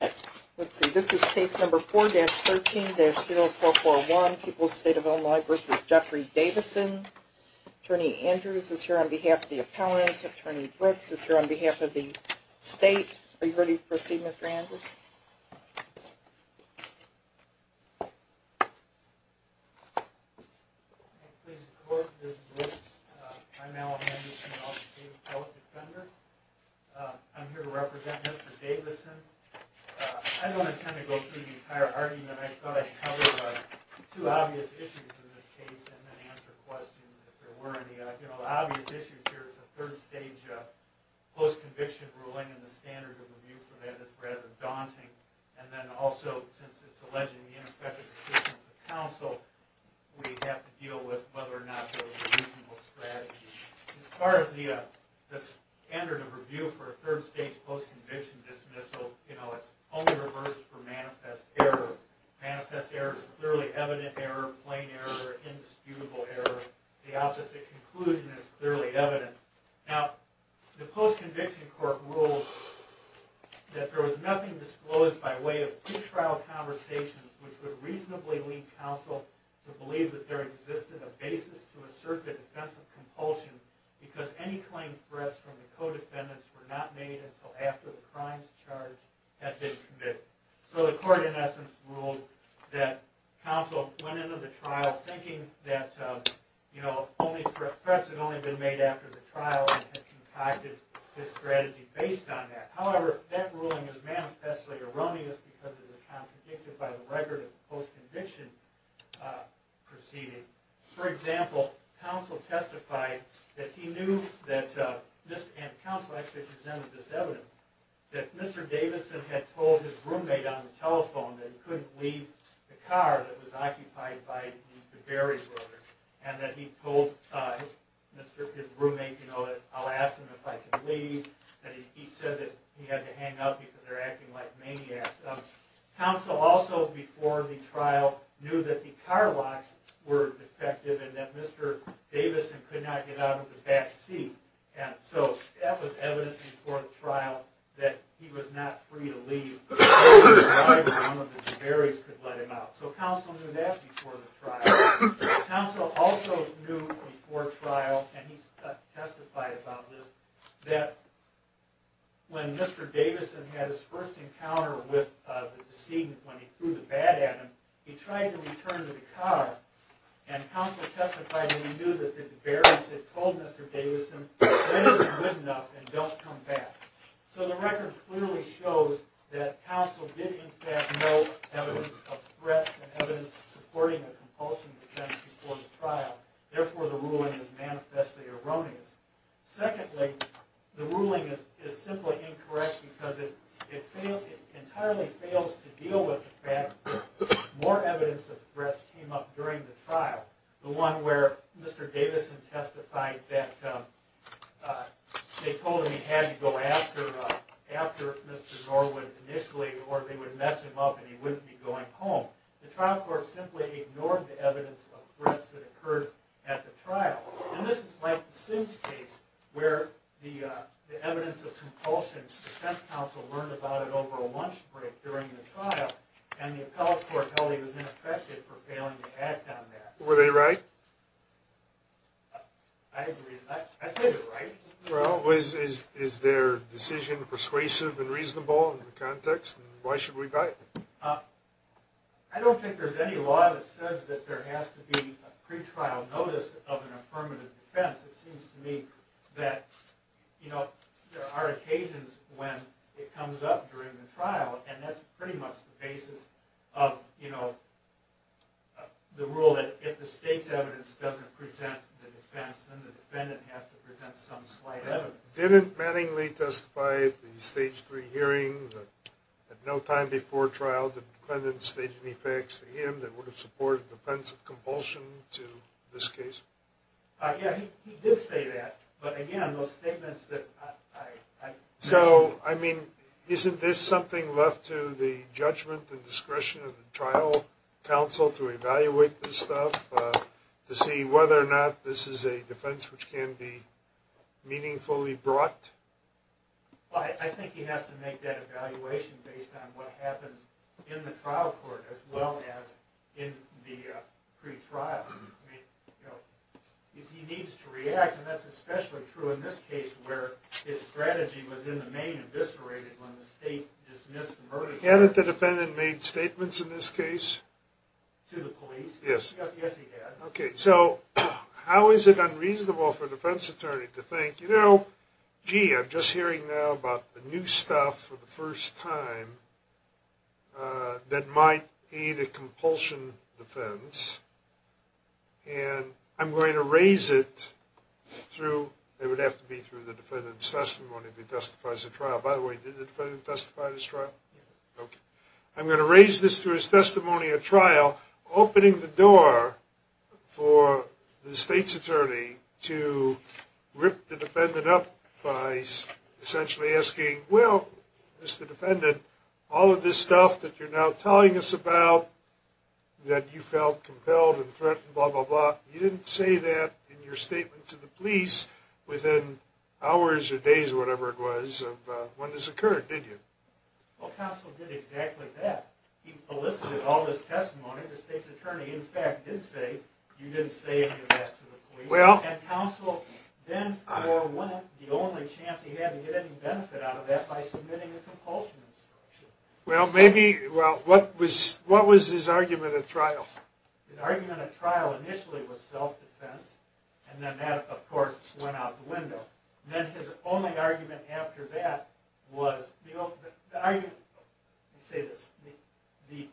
Let's see, this is case number 4-13-0441, People's State of Illinois v. Jeffrey Davison. Attorney Andrews is here on behalf of the appellant. Attorney Brooks is here on behalf of the state. Are you ready to proceed, Mr. Andrews? Mr. Brooks I'm here to represent Mr. Davison. I don't intend to go through the entire argument. I thought I'd cover two obvious issues in this case and then answer questions if there were any. The obvious issue here is a third stage post-conviction ruling and the standard of review for that is rather daunting. And then also, since it's alleging ineffective assistance of counsel, we'd have to deal with whether or not that was a reasonable strategy. As far as the standard of review for a third stage post-conviction dismissal, it's only reversed for manifest error. Manifest error is clearly evident error, plain error, indisputable error. The opposite conclusion is clearly evident. Now, the post-conviction court ruled that there was nothing disclosed by way of pre-trial conversations which would reasonably lead counsel to believe that there existed a basis to assert the defense of compulsion because any claimed threats from the co-defendants were not made until after the crimes charged had been convicted. So the court, in essence, ruled that counsel went into the trial thinking that threats had only been made after the trial and had concocted this strategy based on that. However, that ruling is manifestly erroneous because it is contradicted by the record of the post-conviction proceeding. For example, counsel testified that he knew that, and counsel actually presented this evidence, that Mr. Davison had told his roommate on the telephone that he couldn't leave the car that was occupied by the Barry brothers and that he told his roommate, you know, that I'll ask them if I can leave, that he said that he had to hang up because they're acting like maniacs. Counsel also, before the trial, knew that the car locks were defective and that Mr. Davison could not get out of the back seat. And so that was evidence before the trial that he was not free to leave. The Barrys could let him out. So counsel knew that before the trial. Counsel also knew before trial, and he testified about this, that when Mr. Davison had his first encounter with the decedent, when he threw the bat at him, he tried to return to the car and counsel testified that he knew that the Barrys had told Mr. Davison that it isn't good enough and don't come back. So the record clearly shows that counsel did in fact know evidence of threats and evidence supporting a compulsion defense before the trial. Therefore, the ruling is manifestly erroneous. Secondly, the ruling is simply incorrect because it entirely fails to deal with the fact that more evidence of threats came up during the trial. The one where Mr. Davison testified that they told him he had to go after Mr. Norwood initially or they would mess him up and he wouldn't be going home. The trial court simply ignored the evidence of threats that occurred at the trial. And this is like the Sims case where the evidence of compulsion defense counsel learned about it over a lunch break during the trial. And the appellate court held he was ineffective for failing to act on that. Were they right? I agree. I say they're right. Well, is their decision persuasive and reasonable in the context and why should we buy it? I don't think there's any law that says that there has to be a pretrial notice of an affirmative defense. It seems to me that there are occasions when it comes up during the trial and that's pretty much the basis of the rule that if the state's evidence doesn't present the defense, then the defendant has to present some slight evidence. Didn't Manningly testify at the stage three hearing that at no time before trial the defendant stated any facts to him that would have supported defense of compulsion to this case? Yeah, he did say that. But again, those statements that I mentioned... So, I mean, isn't this something left to the judgment and discretion of the trial counsel to evaluate this stuff to see whether or not this is a defense which can be meaningfully brought? Well, I think he has to make that evaluation based on what happens in the trial court as well as in the pretrial. He needs to react and that's especially true in this case where his strategy was in the main eviscerated when the state dismissed the murder charge. Hadn't the defendant made statements in this case? To the police? Yes. Yes, he had. Okay, so how is it unreasonable for a defense attorney to think, you know, gee, I'm just hearing now about the new stuff for the first time that might aid a compulsion defense and I'm going to raise it through... It would have to be through the defendant's testimony if he testifies at trial. By the way, did the defendant testify at his trial? No. Okay. I'm going to raise this through his testimony at trial, opening the door for the state's attorney to rip the defendant up by essentially asking, well, Mr. Defendant, all of this stuff that you're now telling us about that you felt compelled and threatened, blah, blah, blah, you didn't say that in your statement to the police within hours or days or whatever it was of when this occurred, did you? Well, counsel did exactly that. He elicited all this testimony. The state's attorney, in fact, did say, you didn't say any of that to the police. And counsel then forewent the only chance he had to get any benefit out of that by submitting a compulsion instruction. Well, maybe, well, what was his argument at trial? His argument at trial initially was self-defense, and then that, of course, went out the window. Then his only argument after that was, let me say this, the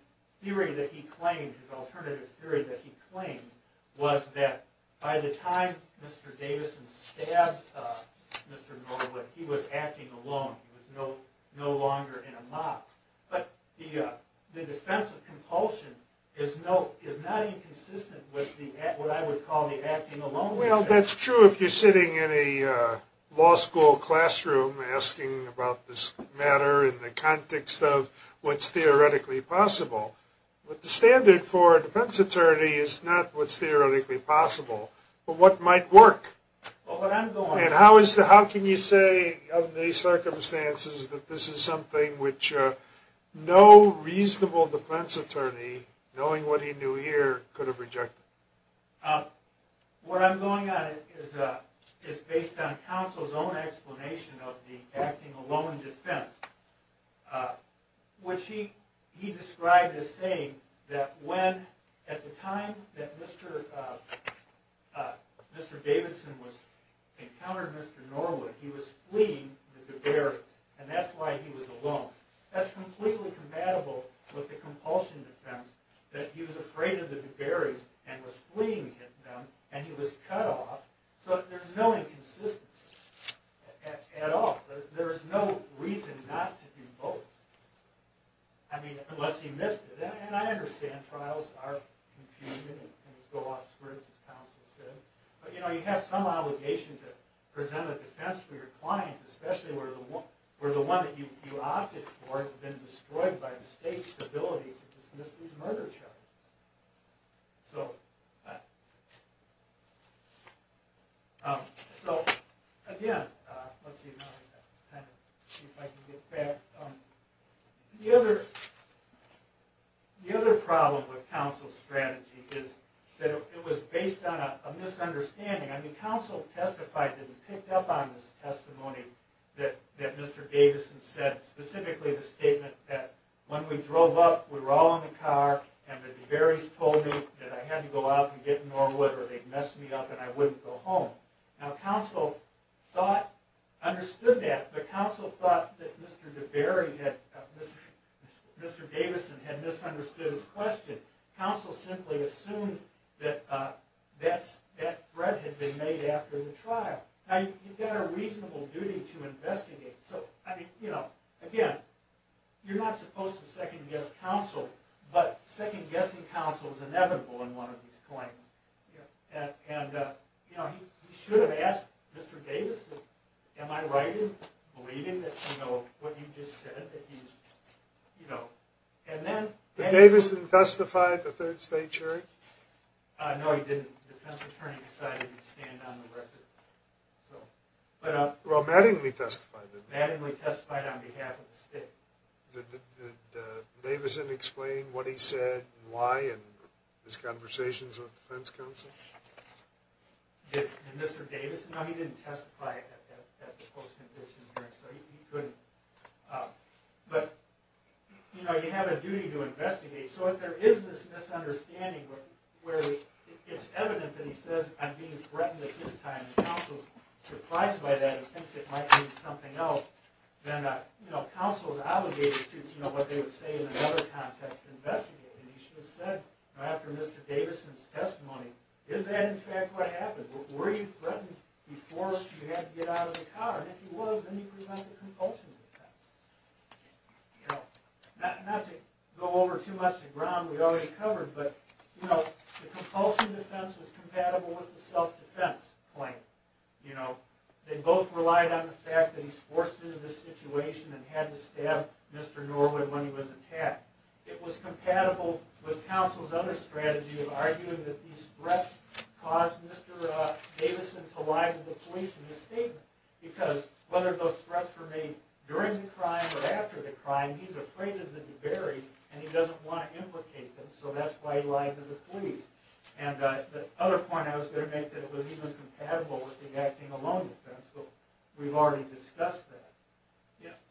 theory that he claimed, his alternative theory that he claimed, was that by the time Mr. Davison stabbed Mr. Norwood, he was acting alone. He was no longer in a mock. But the defense of compulsion is not inconsistent with what I would call the acting alone. Well, that's true if you're sitting in a law school classroom asking about this matter in the context of what's theoretically possible. But the standard for a defense attorney is not what's theoretically possible, but what might work. And how can you say of the circumstances that this is something which no reasonable defense attorney, knowing what he knew here, could have rejected? What I'm going on is based on counsel's own explanation of the acting alone defense, which he described as saying that when, at the time that Mr. Davison encountered Mr. Norwood, he was fleeing the Duberys, and that's why he was alone. That's completely compatible with the compulsion defense, that he was afraid of the Duberys and was fleeing them, and he was cut off. So there's no inconsistency at all. There's no reason not to do both. I mean, unless he missed it. And I understand trials are confusing and go off script, as counsel said. But you know, you have some obligation to present a defense for your client, especially where the one that you opted for has been destroyed by the state's ability to dismiss these murder charges. So again, let's see if I can get back. The other problem with counsel's strategy is that it was based on a misunderstanding. I mean, counsel testified and picked up on this testimony that Mr. Davison said, specifically the statement that when we drove up, we were all in the car, and the Duberys told me that I had to go out and get Norwood or they'd mess me up and I wouldn't go home. Now, counsel understood that, but counsel thought that Mr. Davison had misunderstood his question. Counsel simply assumed that that threat had been made after the trial. Now, you've got a reasonable duty to investigate. So, I mean, you know, again, you're not supposed to second-guess counsel, but second-guessing counsel is inevitable in one of these claims. And, you know, he should have asked Mr. Davison, am I right in believing that, you know, what you just said, that he's, you know. Did Davison testify at the third state hearing? No, he didn't. The defense attorney decided he'd stand on the record. Well, Mattingly testified, didn't he? Mattingly testified on behalf of the state. Did Davison explain what he said and why in his conversations with the defense counsel? Did Mr. Davison? No, he didn't testify at the post-conviction hearing, so he couldn't. But, you know, you have a duty to investigate. So, if there is this misunderstanding where it's evident that he says, I'm being threatened at this time, and counsel's surprised by that and thinks it might mean something else, then, you know, counsel is obligated to, you know, what they would say in another context, investigate. And he should have said, after Mr. Davison's testimony, is that, in fact, what happened? Were you threatened before you had to get out of the car? And if you was, then you present the compulsion defense. You know, not to go over too much of the ground we already covered, but, you know, the compulsion defense was compatible with the self-defense claim. You know, they both relied on the fact that he's forced into this situation and had to stab Mr. Norwood when he was attacked. It was compatible with counsel's other strategy of arguing that these threats caused Mr. Davison to lie to the police in his statement. Because, whether those threats were made during the crime or after the crime, he's afraid of the debris and he doesn't want to implicate them, so that's why he lied to the police. And the other point I was going to make, that it was even compatible with the acting alone defense, but we've already discussed that.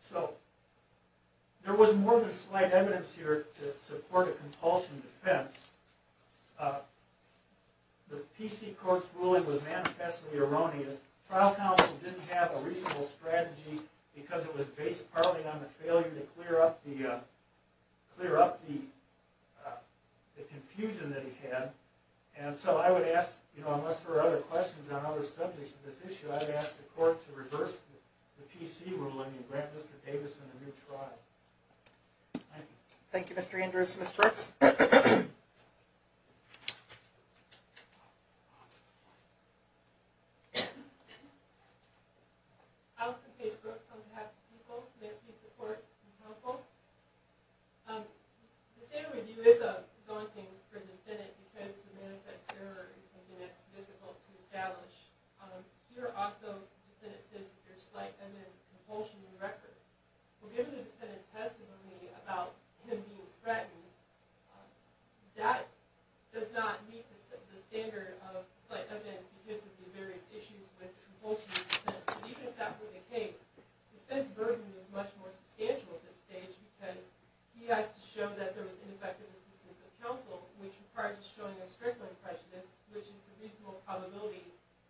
So, there was more than slight evidence here to support a compulsion defense. The PC Court's ruling was manifestly erroneous. Trial counsel didn't have a reasonable strategy because it was based partly on the failure to clear up the confusion that he had. And so, I would ask, you know, unless there are other questions on other subjects of this issue, I would ask the court to reverse the PC ruling and grant Mr. Davison a new trial. Thank you. Thank you, Mr. Andrews. Ms. Brooks? Alice and Kate Brooks, on behalf of the people, may I please report to counsel? The standard review is daunting for the defendant because the manifest error is something that's difficult to establish. Here, also, the defendant states that there's slight evidence of compulsion in the record. Well, given the defendant's testimony about him being threatened, that does not meet the standard of slight evidence because of the various issues with compulsion defense. And even if that were the case, the defendant's burden is much more substantial at this stage because he has to show that there was ineffective assistance of counsel, which requires showing a strength of prejudice, which is the reasonable probability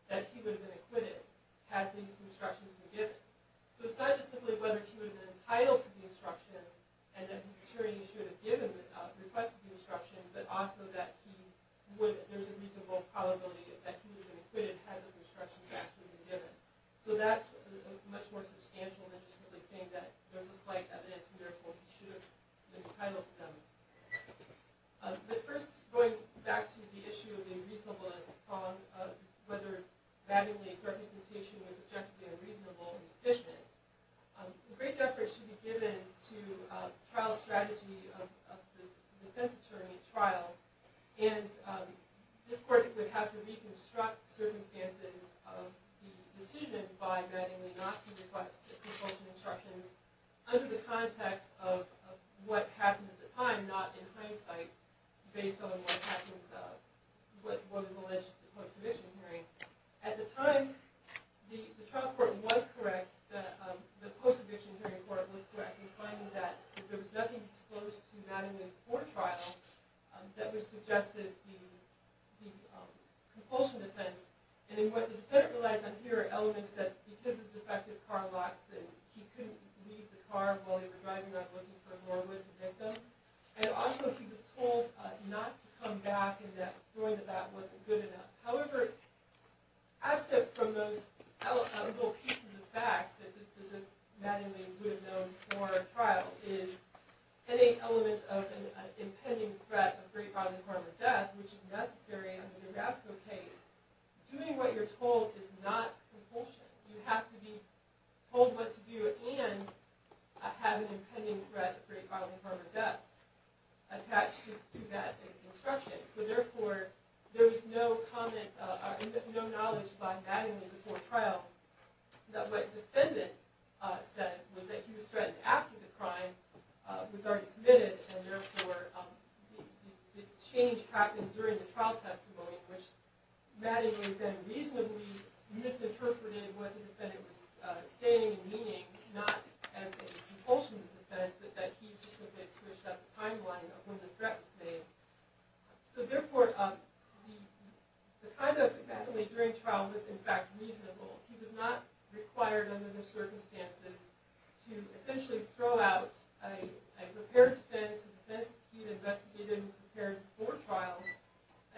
that he would have been acquitted had these instructions been given. So it's not just simply whether he would have been entitled to the instruction and that he should have requested the instruction, but also that there's a reasonable probability that he would have been acquitted had those instructions actually been given. So that's much more substantial than just simply saying that there's a slight evidence and therefore he should have been entitled to them. But first, going back to the issue of the reasonableness of whether Magdalene's representation was objectively reasonable and efficient, a great effort should be given to trial strategy of the defense attorney at trial, and this court would have to reconstruct circumstances of the decision by Magdalene not to request the compulsion instructions under the context of what happened at the time, not in hindsight based on what was alleged at the post-eviction hearing. At the time, the trial court was correct, the post-eviction hearing court was correct in finding that there was nothing disclosed to Magdalene before trial that would suggest that the compulsion defense, and what the defendant relies on here are elements that, because of defective car locks, that he couldn't leave the car while he was driving without looking for more with the victim, and also he was told not to come back and that showing that that wasn't good enough. However, absent from those little pieces of facts that Magdalene would have known before trial is any element of an impending threat of great bodily harm or death, which is necessary in the Durasco case, doing what you're told is not compulsion. You have to be told what to do and have an impending threat of great bodily harm or death attached to that instruction. So therefore, there was no comment, no knowledge by Magdalene before trial that what the defendant said was that he was threatened after the crime, was already committed, and therefore the change happened during the trial testimony, which Magdalene then reasonably misinterpreted what the defendant was saying and meaning, not as a compulsion defense, but that he specifically switched up the timeline of when the threat was made. So therefore, the conduct of Magdalene during trial was in fact reasonable. He was not required under those circumstances to essentially throw out a prepared defense, a defense he had investigated and prepared for trial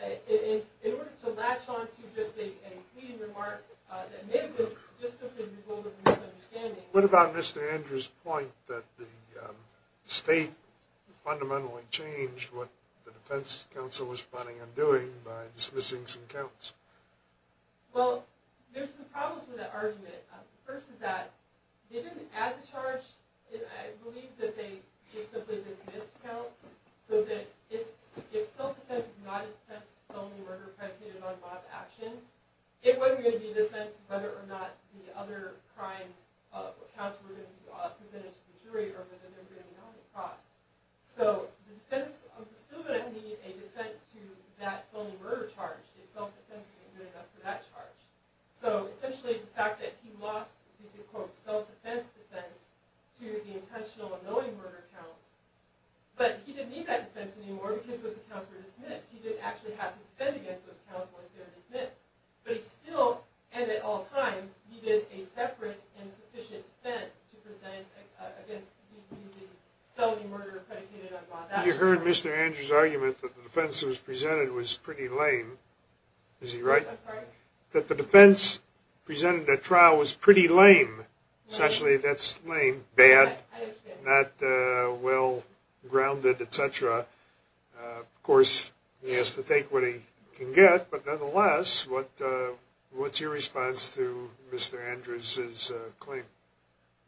in order to latch on to just a clean remark that maybe was just a result of a misunderstanding. What about Mr. Andrews' point that the state fundamentally changed what the defense counsel was planning on doing by dismissing some counts? Well, there's some problems with that argument. The first is that they didn't add the charge. I believe that they just simply dismissed counts so that if self-defense is not a defense of felony murder predicated on mob action, it wasn't going to be a defense of whether or not the other crimes or counts were going to be presented to the jury or whether they were going to be held at cross. So the defense was still going to be a defense to that felony murder charge. The self-defense wasn't good enough for that charge. So essentially, the fact that he lost the self-defense defense to the intentional and knowing murder counts, but he didn't need that defense anymore because those counts were dismissed. He didn't actually have to defend against those counts once they were dismissed. But he still, and at all times, needed a separate and sufficient defense to present against felony murder predicated on mob action. You heard Mr. Andrews' argument that the defense that was presented was pretty lame. Is he right? I'm sorry? That the defense presented at trial was pretty lame. Essentially, that's lame, bad, not well-grounded, etc. Of course, he has to take what he can get. But nonetheless, what's your response to Mr. Andrews' claim?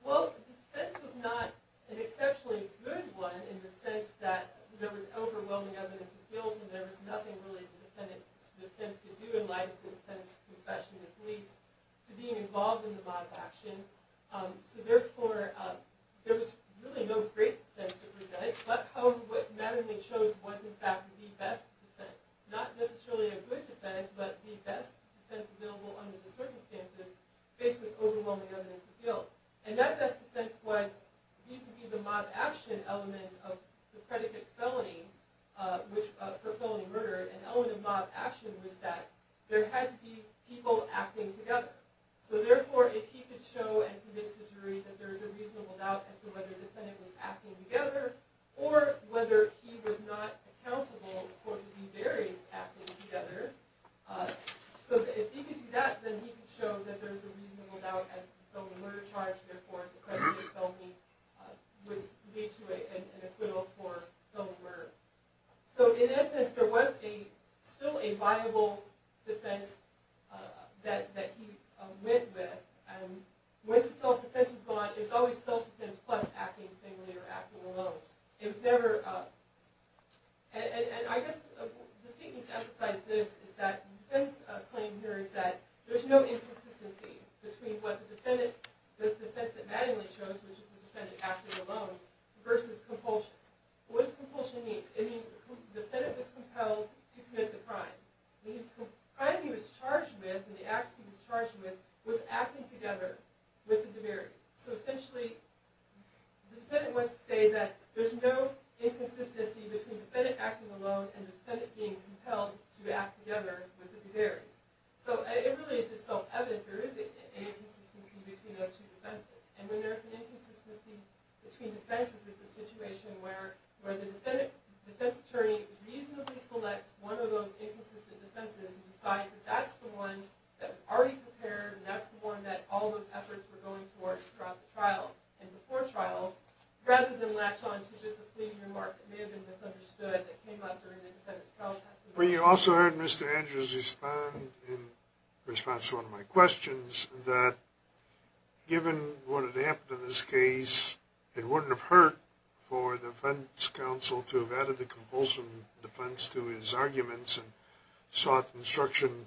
Well, the defense was not an exceptionally good one in the sense that there was overwhelming evidence of guilt and there was nothing really the defendant's defense could do in light of the defendant's confession at least to being involved in the mob action. So therefore, there was really no great defense to present. But however, what matteringly shows was in fact the best defense. Not necessarily a good defense, but the best defense available under the circumstances, faced with overwhelming evidence of guilt. And that best defense was the mob action element of the predicate felony for felony murder. An element of mob action was that there had to be people acting together. So therefore, if he could show and convince the jury that there was a reasonable doubt as to whether the defendant was acting together or whether he was not accountable for the various acting together. So if he could do that, then he could show that there was a reasonable doubt as to the felony murder charge. Therefore, the predicate felony would lead to an acquittal for felony murder. So in essence, there was still a viable defense that he went with. And once the self-defense was gone, there was always self-defense plus acting singly or acting alone. And I guess the statement to emphasize this is that the defense claim here is that there is no inconsistency between the defense that Mattingly chose, which is the defendant acting alone, versus compulsion. What does compulsion mean? It means the defendant was compelled to commit the crime. It means the crime he was charged with and the acts he was charged with was acting together with the demerit. So essentially, the defendant wants to say that there's no inconsistency between the defendant acting alone and the defendant being compelled to act together with the demerit. So it really is just self-evident there is an inconsistency between those two defenses. And when there's an inconsistency between defenses, it's a situation where the defense attorney reasonably selects one of those inconsistent defenses and decides that that's the one that was already prepared and that's the one that all those efforts were going towards throughout the trial and before trial, rather than latch on to just a fleeting remark that may have been misunderstood that came up during the defendant's trial testimony. Well, you also heard Mr. Andrews respond in response to one of my questions, that given what had happened in this case, it wouldn't have hurt for the defense counsel to have added the compulsion defense to his arguments and sought instruction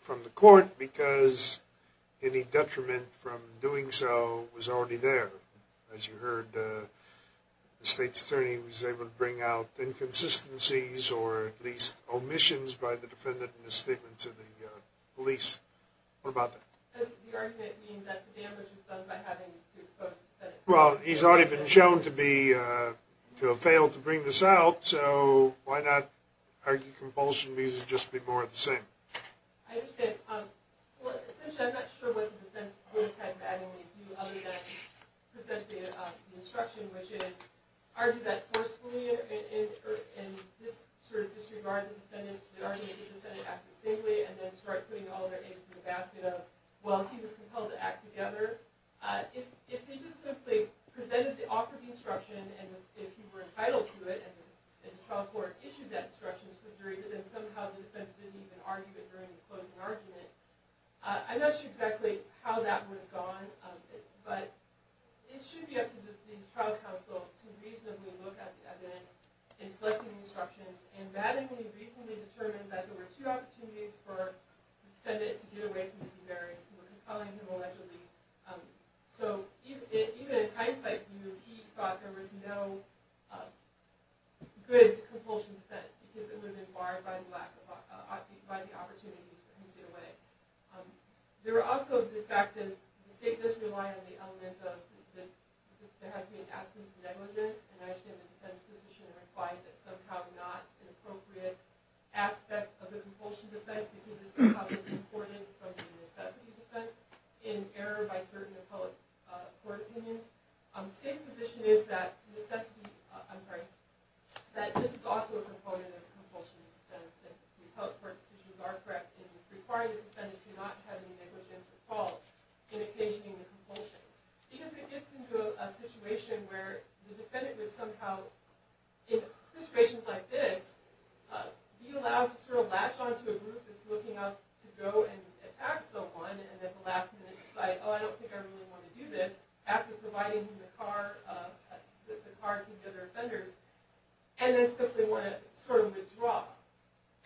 from the court because any detriment from doing so was already there. As you heard, the state's attorney was able to bring out inconsistencies or at least omissions by the defendant in his statement to the police. What about that? Well, he's already been shown to have failed to bring this out, so why not argue compulsion means it'd just be more of the same? ...instruction, which is argue that forcefully in disregard of the defendant's argument that the defendant acted stingly and then start putting all their eggs in the basket of well, he was compelled to act together. If they just simply presented the offer of instruction and if he were entitled to it and the trial court issued that instruction, then somehow the defense didn't even argue it during the closing argument. I'm not sure exactly how that would have gone, but it should be up to the trial counsel to reasonably look at this in selecting instructions, and Madden, when he recently determined that there were two opportunities for the defendant to get away from the two barriers, he was compelling him allegedly. So even in hindsight, he thought there was no good compulsion defense because it would have been barred by the opportunities for him to get away. There are also the fact that the state does rely on the element of that there has to be an absence of negligence, and I understand the defense position requires that somehow not an appropriate aspect of the compulsion defense because this is probably important from the necessity defense in error by certain appellate court opinions. The state's position is that this is also a component of the compulsion defense and the appellate court decisions are correct in requiring the defendant to not have any negligence at all in occasioning the compulsion because it gets into a situation where the defendant would somehow, in situations like this, be allowed to sort of latch onto a group that's looking out to go and attack someone, and at the last minute decide, oh, I don't think I really want to do this after providing the car to the other offenders, and then simply want to sort of withdraw.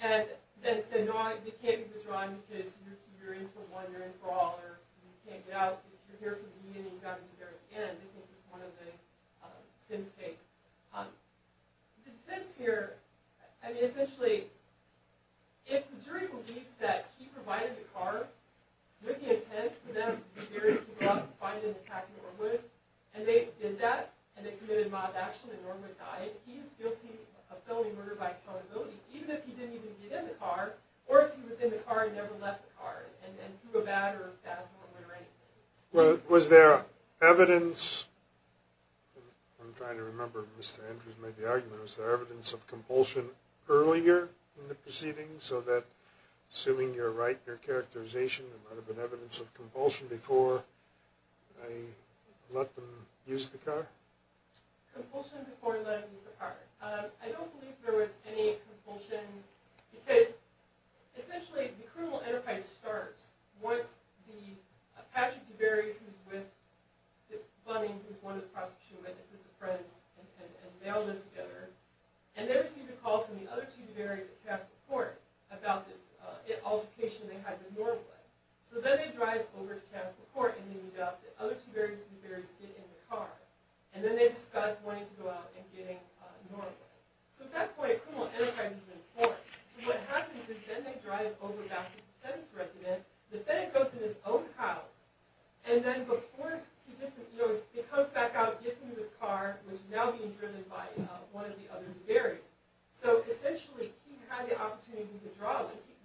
And then say, no, you can't withdraw because you're in for one, you're in for all, or you can't get out, you're here for me, and you got me here again. This is one of the Sims case. The defense here, I mean, essentially, if the jury believes that he provided the car with the intent for them, the jurors, to go out and find and attack Norwood, and they did that, and they committed mild action, and Norwood died, he is guilty of felony murder by accountability, even if he didn't even get in the car, or if he was in the car and never left the car, and threw a bat or a staff at Norwood or anything. Was there evidence, I'm trying to remember if Mr. Andrews made the argument, was there evidence of compulsion earlier in the proceedings, so that, assuming you're right in your characterization, there might have been evidence of compulsion before they let them use the car? Compulsion before letting them use the car. I don't believe there was any compulsion, because, essentially, the criminal enterprise starts once Patrick DeBerry, who's with Bunning, who's one of the prosecution witnesses, the friends, and they all live together, and they receive a call from the other two DeBerry's that passed the court about this altercation they had with Norwood. So then they drive over to pass the court, and they meet up, the other two DeBerry's get in the car, and then they discuss wanting to go out and get Norwood. So at that point, a criminal enterprise has been formed. So what happens is then they drive over back to the defendant's residence, the defendant goes to his own house, and then before he gets in, he comes back out, gets into his car, which is now being driven by one of the other DeBerry's. So, essentially, he had the opportunity to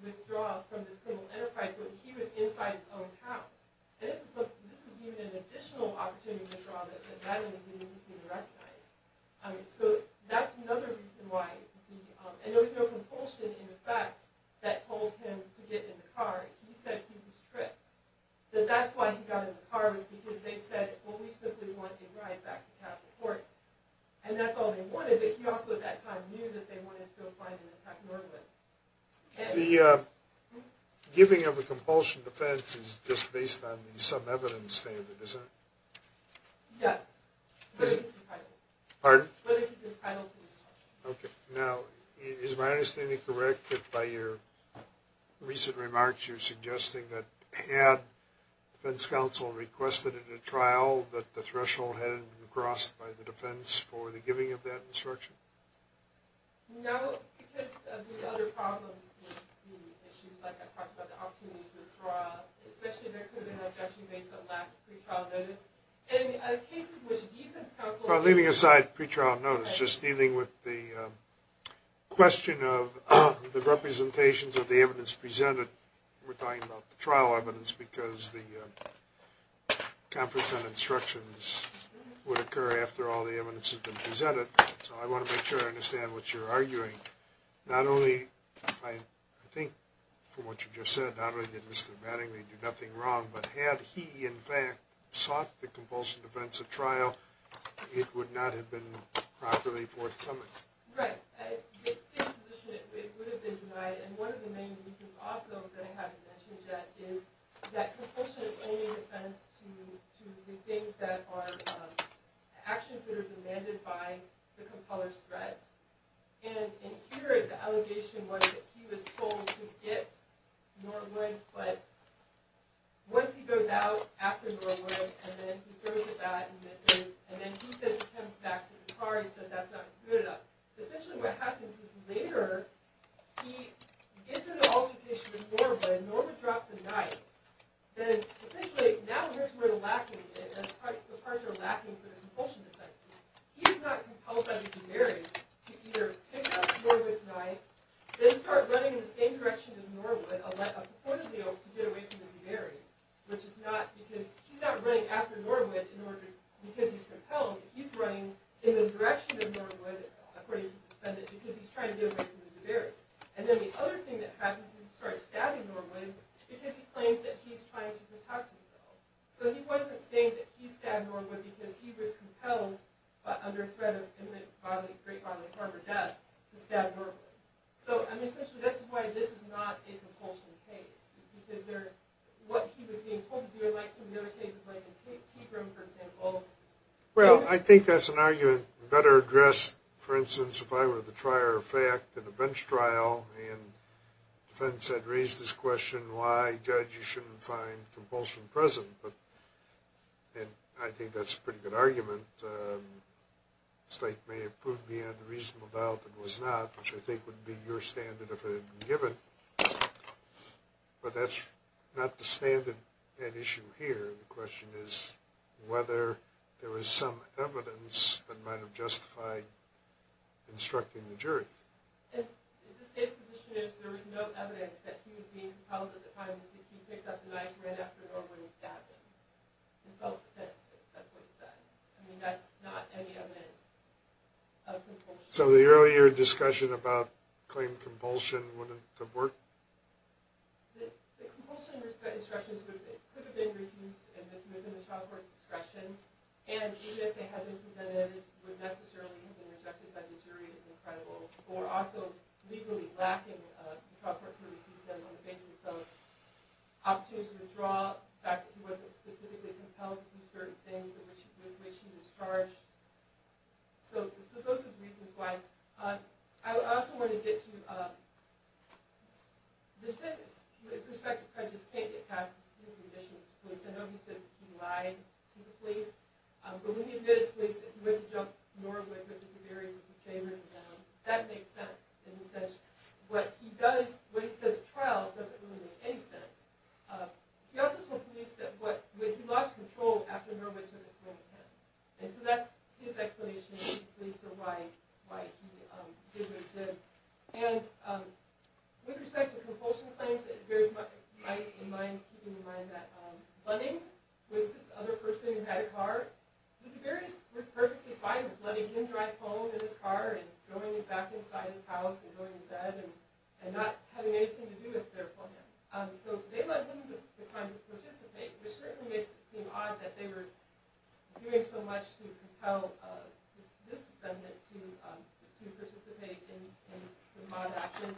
withdraw from this criminal enterprise, but he was inside his own house. And this is even an additional opportunity to withdraw that Madeline didn't even recognize. So that's another reason why, and there was no compulsion in effect that told him to get in the car. He said he was tricked. But that's why he got in the car was because they said, well, we simply want a drive back to pass the court, and that's all they wanted. But he also at that time knew that they wanted to go find and attack Norwood. The giving of a compulsion defense is just based on some evidence, David, isn't it? Yes. Pardon? Whether he's entitled to it or not. Okay. Now, is my understanding correct that by your recent remarks you're suggesting that had defense counsel requested at a trial that the threshold had been crossed by the defense for the giving of that instruction? No, because of the other problems with the issues, like I talked about, the opportunity to withdraw, especially if there could have been an objection based on lack of pretrial notice. In cases in which defense counsel— Well, leaving aside pretrial notice, just dealing with the question of the representations of the evidence presented, we're talking about the trial evidence because the conference on instructions would occur after all the evidence has been presented. So I want to make sure I understand what you're arguing. Not only, I think from what you just said, not only did Mr. Mattingly do nothing wrong, but had he, in fact, sought the compulsion defense at trial, it would not have been properly forthcoming. Right. If it had stayed in position, it would have been denied. And one of the main reasons also that I haven't mentioned yet is that compulsion is only defense to the things that are actions that are demanded by the compeller's threats. And here, the allegation was that he was told to get Norwood, but once he goes out after Norwood, and then he throws a bat and misses, and then he says he comes back to the car, he said that's not good enough. Essentially what happens is later, he gets into an altercation with Norwood, and Norwood drops a knife. Then, essentially, now here's where the lacking is. The parts are lacking for the compulsion defense. He's not compelled by the Duberys to either pick up Norwood's knife, then start running in the same direction as Norwood, a port of the oath to get away from the Duberys, which is not, because he's not running after Norwood because he's compelled, he's running in the direction of Norwood, according to the defendant, because he's trying to get away from the Duberys. And then the other thing that happens is he starts stabbing Norwood because he claims that he's trying to protect himself. So he wasn't saying that he stabbed Norwood because he was compelled, under threat of imminent bodily harm or death, to stab Norwood. So, I mean, essentially, that's why this is not a compulsion case, because what he was being told to do, like some of the other cases, like in Capron, for example. Well, I think that's an argument better addressed, for instance, if I were the trier of fact in a bench trial, and the defendant said, raise this question, why, judge, you shouldn't find compulsion present. And I think that's a pretty good argument. The state may have proved beyond a reasonable doubt that it was not, which I think would be your standard if it had been given. But that's not the standard at issue here. The question is whether there was some evidence that might have justified instructing the jury. The state's position is there was no evidence that he was being compelled at the time because he picked up the knife right after Norwood had stabbed him. He felt the sense that that's what he said. I mean, that's not any evidence of compulsion. So the earlier discussion about claim compulsion wouldn't have worked? The compulsion instructions could have been reused within the child court's discretion, and even if they had been presented, it wouldn't necessarily have been rejected by the jury. It's incredible. Or also, legally lacking the child court could have used them on the basis of opportunity to withdraw, the fact that he wasn't specifically compelled to do certain things in which he was charged. So those are the reasons why. I also want to get to the defense. With respect to prejudice, can't get past the conditions of police. I know he said he lied to the police, but when he admitted to police that he went to jump Norwood because of the areas of his favor in the town, that makes sense. In a sense, what he says at trial doesn't really make any sense. He also told police that when he lost control after Norwood took a stab at him. And so that's his explanation to the police for why he did what he did. And with respect to compulsion claims, it bears in mind that Bunning was this other person who had a car. The Barriers were perfectly fine with letting him drive home in his car and going back inside his house and going to bed and not having anything to do with their plan. So they let him have the time to participate, which certainly makes it seem odd that they were doing so much to compel this defendant to participate in the mob action.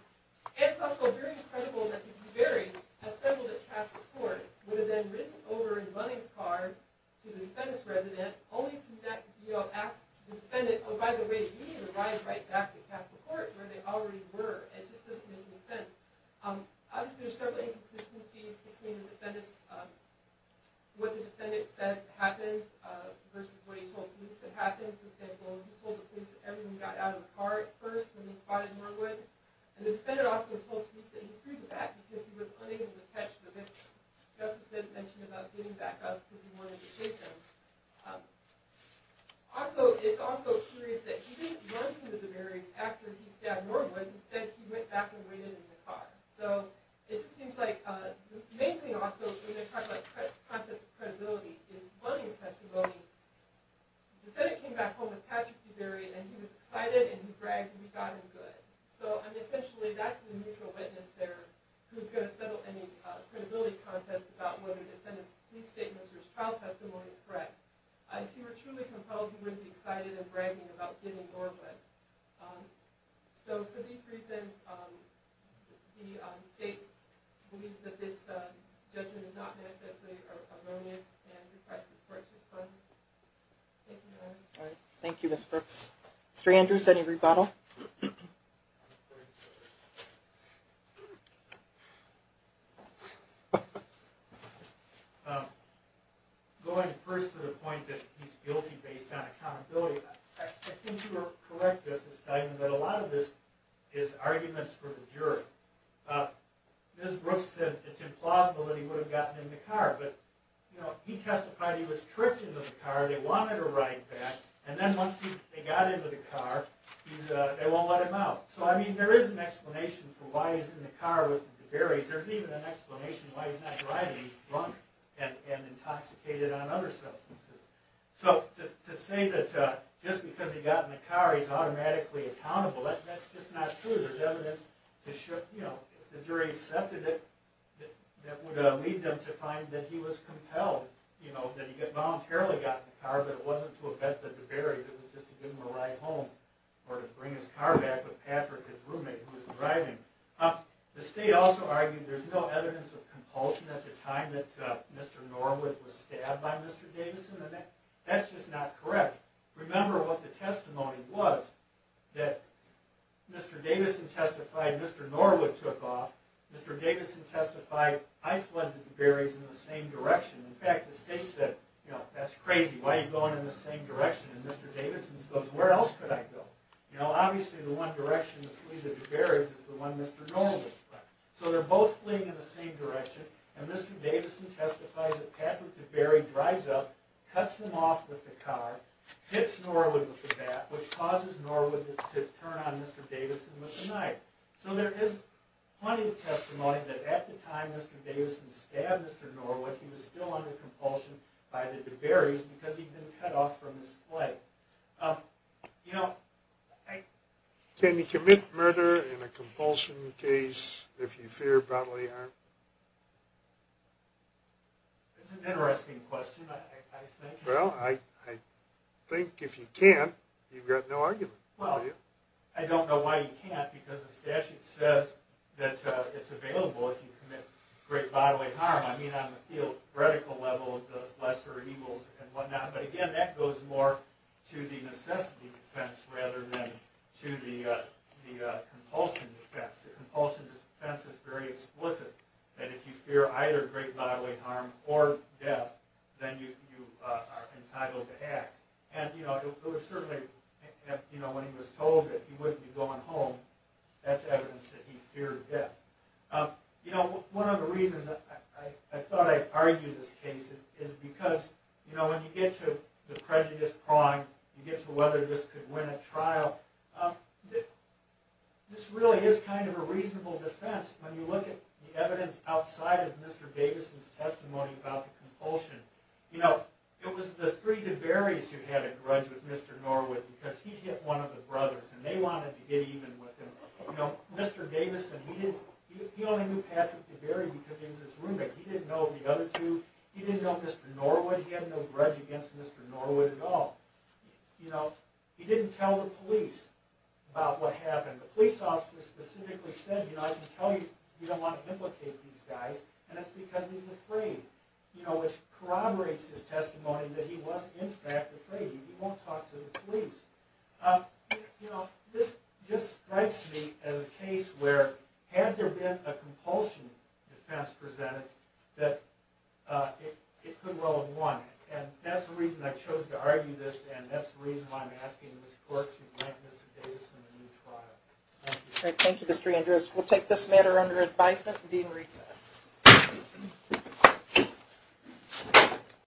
And it's also very credible that the Barriers assembled at Castle Court would have then ridden over in Bunning's car to the defendant's residence, only to ask the defendant, oh by the way, you need to drive right back to Castle Court where they already were. It just doesn't make any sense. Obviously there's several inconsistencies between what the defendant said happens versus what he told police that happens. For example, he told the police that everyone got out of the car at first when they spotted Norwood. And the defendant also told police that he proved that because he was unable to catch the victim. Just as Ben mentioned about getting back up because he wanted to chase him. Also, it's also curious that he didn't run into the Barriers after he stabbed Norwood. Instead, he went back and waited in the car. The main thing also, when they talk about the contest of credibility, is Bunning's testimony. The defendant came back home with Patrick to bury, and he was excited, and he bragged that he got him good. Essentially, that's the neutral witness there who's going to settle any credibility contest about whether the defendant's police statement or his trial testimony is correct. If he were truly compelled, he wouldn't be excited and bragging about getting Norwood. So, for these reasons, the state believes that this judgment is not necessarily erroneous, and the press reports it's wrong. Thank you, Ms. Brooks. Mr. Andrews, any rebuttal? Going first to the point that he's guilty based on accountability, I think you were correct, Justice Steinman, that a lot of this is arguments for the jury. Ms. Brooks said it's implausible that he would have gotten in the car, but he testified he was tripped into the car, they wanted a ride back, and then once they got into the car, they won't let him out. So, I mean, there is an explanation for why he's in the car with the Barriers. There's even an explanation why he's not driving. He's drunk and intoxicated on other substances. So, to say that just because he got in the car, he's automatically accountable, that's just not true. There's evidence to show, you know, if the jury accepted it, that would lead them to find that he was compelled, you know, that he voluntarily got in the car, but it wasn't to offend the Barriers, it was just to give him a ride home, or to bring his car back with Patrick, his roommate, who was driving. The state also argued there's no evidence of compulsion at the time that Mr. Norwood was stabbed by Mr. Davison, and that's just not correct. Remember what the testimony was, that Mr. Davison testified Mr. Norwood took off. Mr. Davison testified, I fled the Barriers in the same direction. In fact, the state said, you know, that's crazy, why are you going in the same direction? And Mr. Davison goes, where else could I go? You know, obviously the one direction to flee the Barriers is the one Mr. Norwood fled. So they're both fleeing in the same direction, and Mr. Davison testifies that Patrick DeBerry drives up, cuts him off with the car, hits Norwood with the bat, which causes Norwood to turn on Mr. Davison with the knife. So there is plenty of testimony that at the time Mr. Davison stabbed Mr. Norwood, he was still under compulsion by the DeBerrys because he'd been cut off from his flight. You know, I... Can you commit murder in a compulsion case if you fear bodily harm? That's an interesting question, I think. Well, I think if you can't, you've got no argument. Well, I don't know why you can't, because the statute says that it's available if you commit great bodily harm. I mean, on the theoretical level, the lesser evils and whatnot. But again, that goes more to the necessity defense rather than to the compulsion defense. The compulsion defense is very explicit, that if you fear either great bodily harm or death, then you are entitled to act. And, you know, it was certainly, you know, when he was told that he wouldn't be going home, that's evidence that he feared death. You know, one of the reasons I thought I'd argue this case is because, you know, when you get to the prejudice prong, you get to whether this could win a trial, this really is kind of a reasonable defense when you look at the evidence outside of Mr. Davison's testimony about the compulsion. You know, it was the three DeBerrys who had a grudge with Mr. Norwood because he hit one of the brothers, and they wanted to get even with him. You know, Mr. Davison, he only knew Patrick DeBerry because he was his roommate. He didn't know the other two. He didn't know Mr. Norwood. He had no grudge against Mr. Norwood at all. You know, he didn't tell the police about what happened. The police officer specifically said, you know, I can tell you, you don't want to implicate these guys, and that's because he's afraid. You know, which corroborates his testimony that he was, in fact, afraid. He won't talk to the police. You know, this just strikes me as a case where, had there been a compulsion defense presented, that it could well have won, and that's the reason I chose to argue this, and that's the reason why I'm asking this court to grant Mr. Davison a new trial. Thank you. Thank you, Mr. Andrews. We'll take this matter under advisement and deem recess.